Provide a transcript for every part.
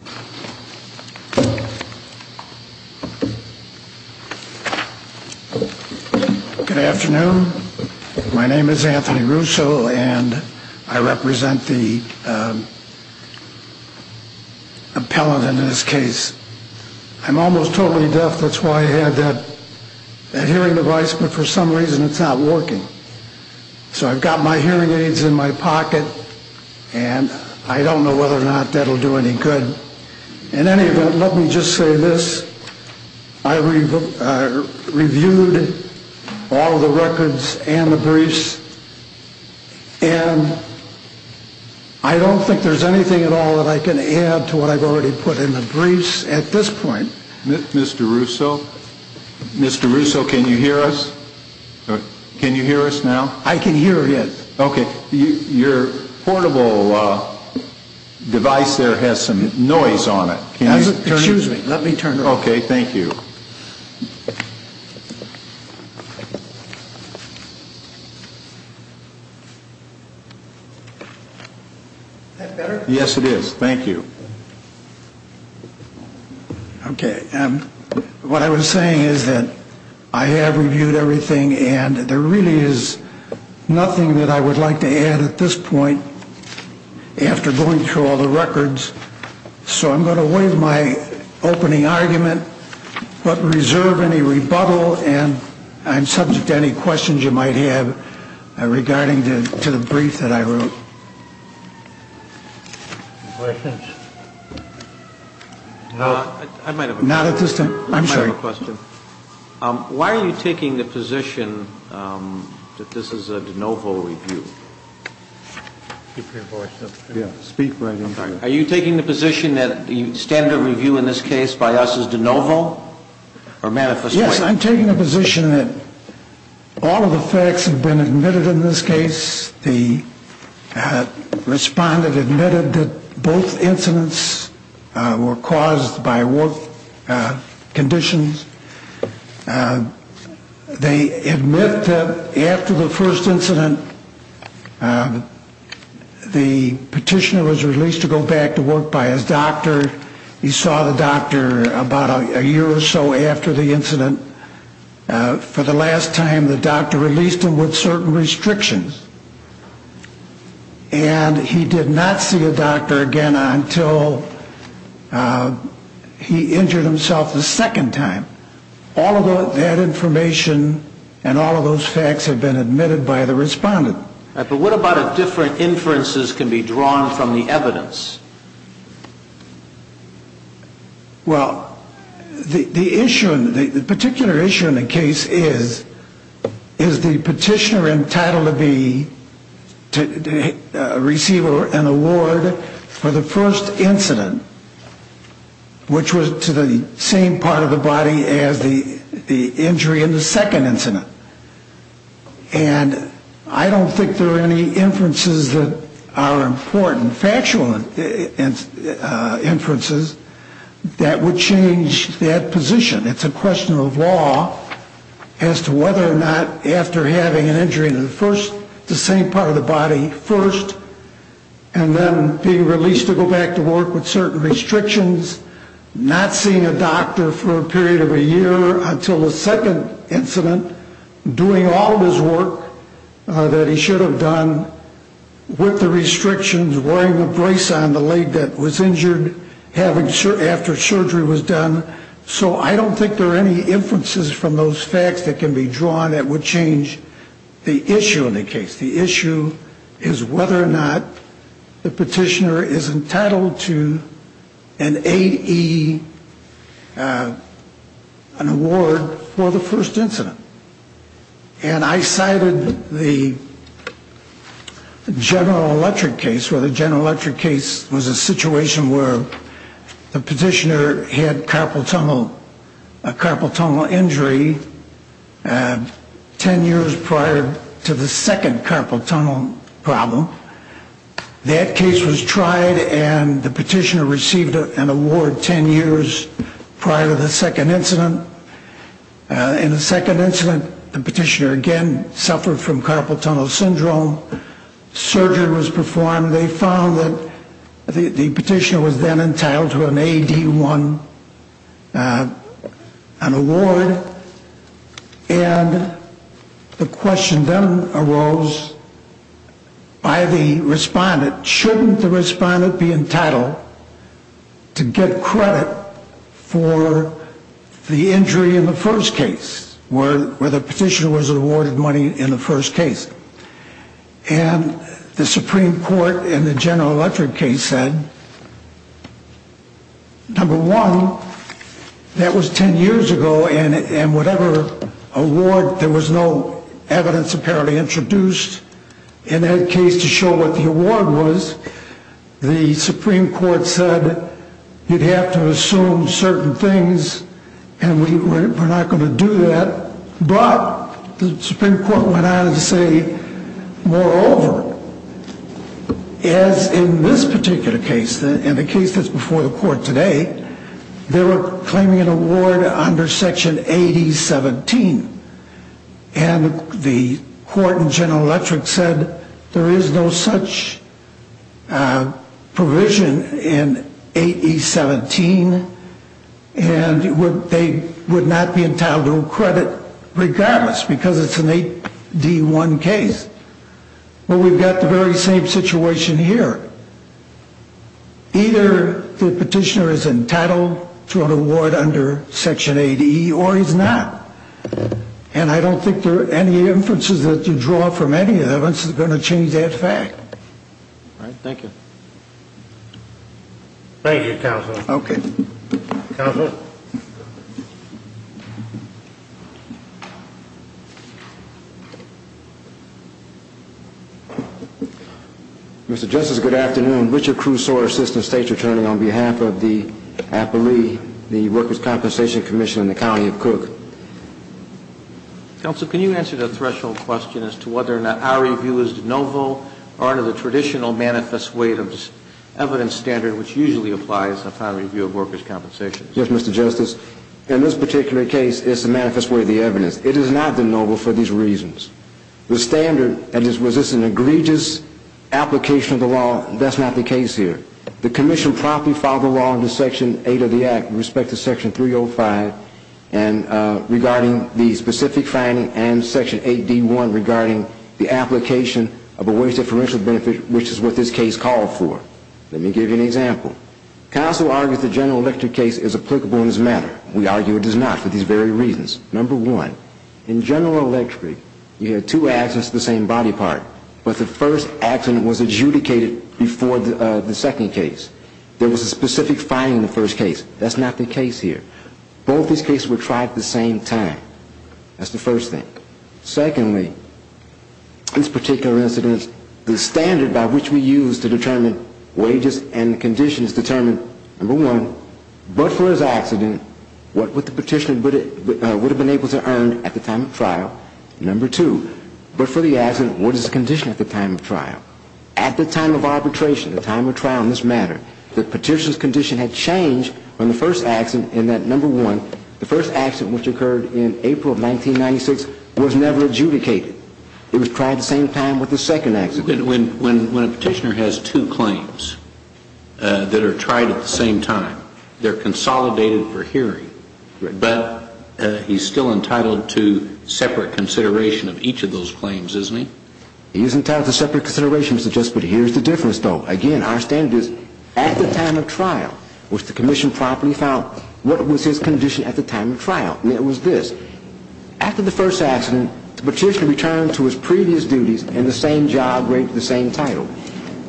Good afternoon. My name is Anthony Russo and I represent the appellant in this case. I'm almost totally deaf, that's why I had that hearing device, but for some reason it's not working. So I've got my hearing aids in my pocket and I don't know whether or not that will do any good. In any event, let me just say this, I reviewed all the records and the briefs and I don't think there's anything at all that I can add to what I've already put in the briefs at this point. Mr. Russo? Mr. Russo, can you hear us? Can you hear us now? I can hear, yes. Okay. Your portable device there has some noise on it. Excuse me, let me turn it off. Okay, thank you. Is that better? Yes, it is. Thank you. Okay. What I was saying is that I have reviewed everything and there really is nothing that I would like to add at this point after going through all the records, so I'm going to waive my opening argument but reserve any rebuttal and I'm subject to any questions you might have regarding to the brief that I wrote. Thank you. Any questions? I might have a question. Not at this time. I'm sorry. I might have a question. Why are you taking the position that this is a de novo review? Are you taking the position that standard review in this case by us is de novo? Yes, I'm taking the position that all of the facts have been admitted in this case. The respondent admitted that both incidents were caused by work conditions. They admit that after the first incident the petitioner was released to go back to work by his doctor. He saw the doctor about a year or so after the incident. For the last time the doctor released him with certain restrictions and he did not see a doctor again until he injured himself the second time. All of that information and all of those facts have been admitted by the respondent. But what about if different inferences can be drawn from the evidence? Well, the issue, the particular issue in the case is, is the petitioner entitled to receive an award for the first incident, which was to the same part of the body as the injury in the second incident. And I don't think there are any inferences that are important. There are factual inferences that would change that position. It's a question of law as to whether or not after having an injury in the first, the same part of the body first, and then being released to go back to work with certain restrictions, not seeing a doctor for a period of a year until the second incident, doing all of his work that he should have done with the restrictions, wearing the brace on the leg that was injured after surgery was done. So I don't think there are any inferences from those facts that can be drawn that would change the issue in the case. The issue is whether or not the petitioner is entitled to an AED, an award for the first incident. And I cited the General Electric case where the General Electric case was a situation where the petitioner had carpal tunnel, a carpal tunnel injury ten years prior to the second carpal tunnel problem. That case was tried, and the petitioner received an award ten years prior to the second incident. In the second incident, the petitioner again suffered from carpal tunnel syndrome. A carpal tunnel surgery was performed. They found that the petitioner was then entitled to an AED1, an award. And the question then arose by the respondent, shouldn't the respondent be entitled to get credit for the injury in the first case, where the petitioner was awarded money in the first case? And the Supreme Court in the General Electric case said, number one, that was ten years ago, and whatever award, there was no evidence apparently introduced in that case to show what the award was. The Supreme Court said, you'd have to assume certain things, and we're not going to do that. But the Supreme Court went on to say, moreover, as in this particular case, and the case that's before the court today, they were claiming an award under Section 8E17, and the court in General Electric said there is no such provision in 8E17, and they would not be entitled to credit regardless, because it's an AED1 case. But we've got the very same situation here. Either the petitioner is entitled to an award under Section 8E, or he's not. And I don't think any inferences that you draw from any of this is going to change that fact. All right, thank you. Thank you, Counsel. Okay. Counsel? Mr. Justice, good afternoon. Richard Crusore, Assistant State's Attorney, on behalf of the appellee, the Workers' Compensation Commission in the County of Cook. Counsel, can you answer the threshold question as to whether or not our review is de novo or under the traditional manifest weight of evidence standard, which usually applies to a final review of workers' compensation? Yes, Mr. Justice. In this particular case, it's the manifest weight of the evidence. It is not de novo for these reasons. The standard that is resistant to egregious application of the law, that's not the case here. The Commission promptly filed the law under Section 8 of the Act with respect to Section 305, and regarding the specific finding and Section 8D1 regarding the application of a wage differential benefit, which is what this case called for. Let me give you an example. Counsel argues the General Electric case is applicable in this matter. We argue it is not for these very reasons. Number one, in General Electric, you had two accidents of the same body part, but the first accident was adjudicated before the second case. There was a specific finding in the first case. That's not the case here. Both these cases were tried at the same time. That's the first thing. Secondly, this particular incident, the standard by which we use to determine wages and conditions determined, number one, but for his accident, what would the petitioner have been able to earn at the time of trial? Number two, but for the accident, what is the condition at the time of trial? At the time of arbitration, the time of trial in this matter, the petitioner's condition had changed from the first accident in that, number one, the first accident which occurred in April of 1996 was never adjudicated. It was tried at the same time with the second accident. But when a petitioner has two claims that are tried at the same time, they're consolidated for hearing. But he's still entitled to separate consideration of each of those claims, isn't he? He is entitled to separate consideration, Mr. Justice, but here's the difference, though. Again, our standard is at the time of trial, which the commission properly found, what was his condition at the time of trial? And it was this. After the first accident, the petitioner returned to his previous duties and the same job with the same title.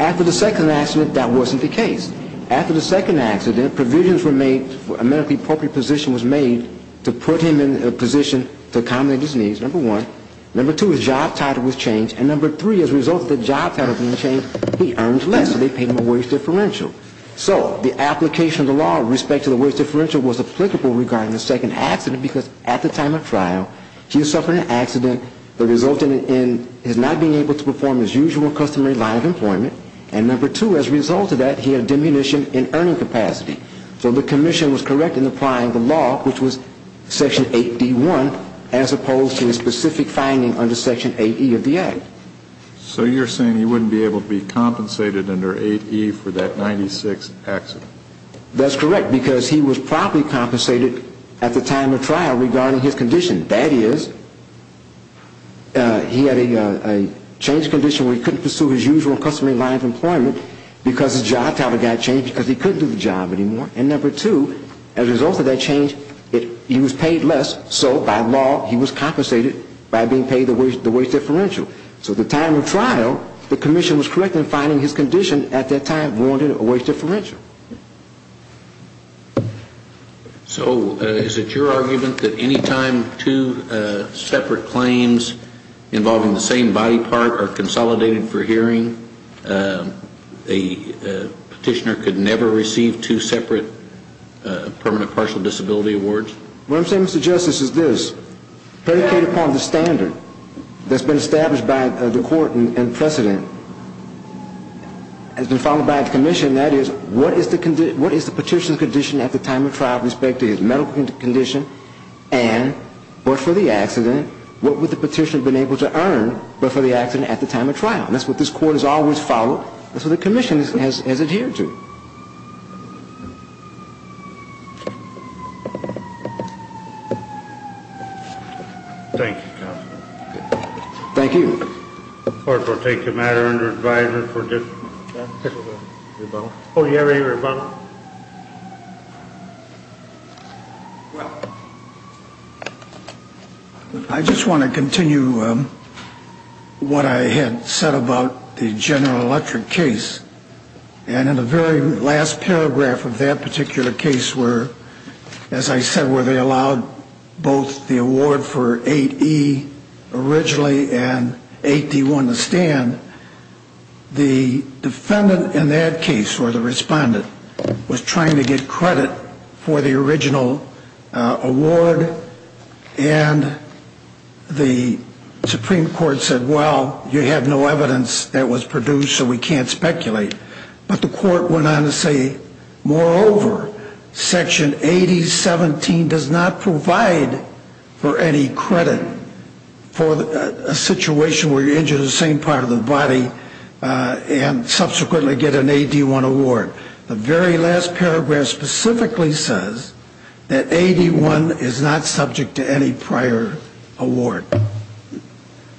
After the second accident, that wasn't the case. After the second accident, provisions were made, a medically appropriate position was made to put him in a position to accommodate his needs, number one. Number two, his job title was changed. And number three, as a result of the job title being changed, he earned less, so they paid him a wage differential. So the application of the law with respect to the wage differential was applicable regarding the second accident because at the time of trial, he was suffering an accident that resulted in his not being able to perform his usual customary line of employment. And number two, as a result of that, he had a diminution in earning capacity. So the commission was correct in applying the law, which was Section 8D1, as opposed to the specific finding under Section 8E of the Act. So you're saying he wouldn't be able to be compensated under 8E for that 96 accident? That's correct, because he was properly compensated at the time of trial regarding his condition. That is, he had a change of condition where he couldn't pursue his usual customary line of employment because his job title got changed because he couldn't do the job anymore. And number two, as a result of that change, he was paid less, so by law he was compensated by being paid the wage differential. So at the time of trial, the commission was correct in finding his condition at that time warranted a wage differential. So is it your argument that any time two separate claims involving the same body part are consolidated for hearing, a petitioner could never receive two separate permanent partial disability awards? What I'm saying, Mr. Justice, is this. Predicate upon the standard that's been established by the court in precedent has been followed by the commission. That is, what is the petitioner's condition at the time of trial with respect to his medical condition and what for the accident? What would the petitioner have been able to earn but for the accident at the time of trial? And that's what this court has always followed. That's what the commission has adhered to. Thank you, Counselor. Thank you. The court will take the matter under advisement for this rebuttal. Oh, do you have any rebuttal? Well, I just want to continue what I had said about the General Electric case. And in the very last paragraph of that particular case where, as I said, where they allowed both the award for 8E originally and 8D1 to stand, the defendant in that case, or the respondent, was trying to get credit for the original award. And the Supreme Court said, well, you have no evidence that was produced, so we can't speculate. But the court went on to say, moreover, Section 8017 does not provide for any credit for a situation where you're injured the same part of the body and subsequently get an 8D1 award. The very last paragraph specifically says that 8D1 is not subject to any prior award.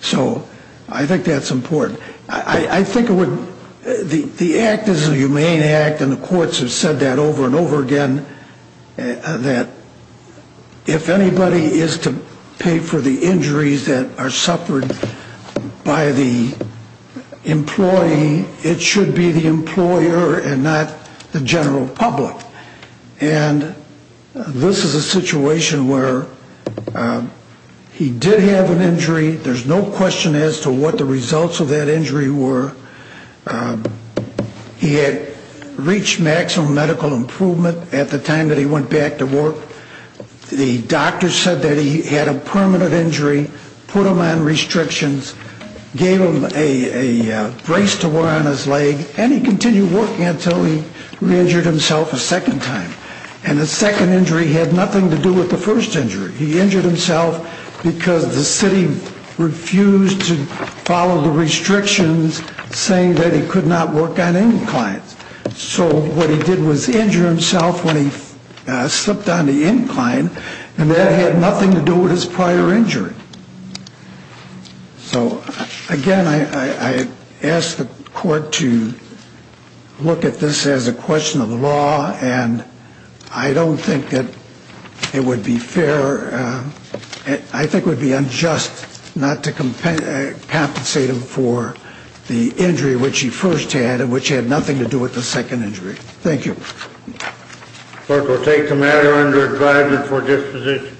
So I think that's important. I think the act is a humane act, and the courts have said that over and over again, that if anybody is to pay for the injuries that are suffered by the employee, it should be the employer and not the general public. And this is a situation where he did have an injury. There's no question as to what the results of that injury were. He had reached maximum medical improvement at the time that he went back to work. The doctor said that he had a permanent injury, put him on restrictions, gave him a brace to wear on his leg, and he continued working until he re-injured himself a second time. And the second injury had nothing to do with the first injury. He injured himself because the city refused to follow the restrictions saying that he could not work on inclines. So what he did was injure himself when he slipped on the incline, and that had nothing to do with his prior injury. So, again, I ask the court to look at this as a question of the law, and I don't think that it would be fair. I think it would be unjust not to compensate him for the injury which he first had, which had nothing to do with the second injury. Thank you. Clerk will take the matter under advisement for disposition.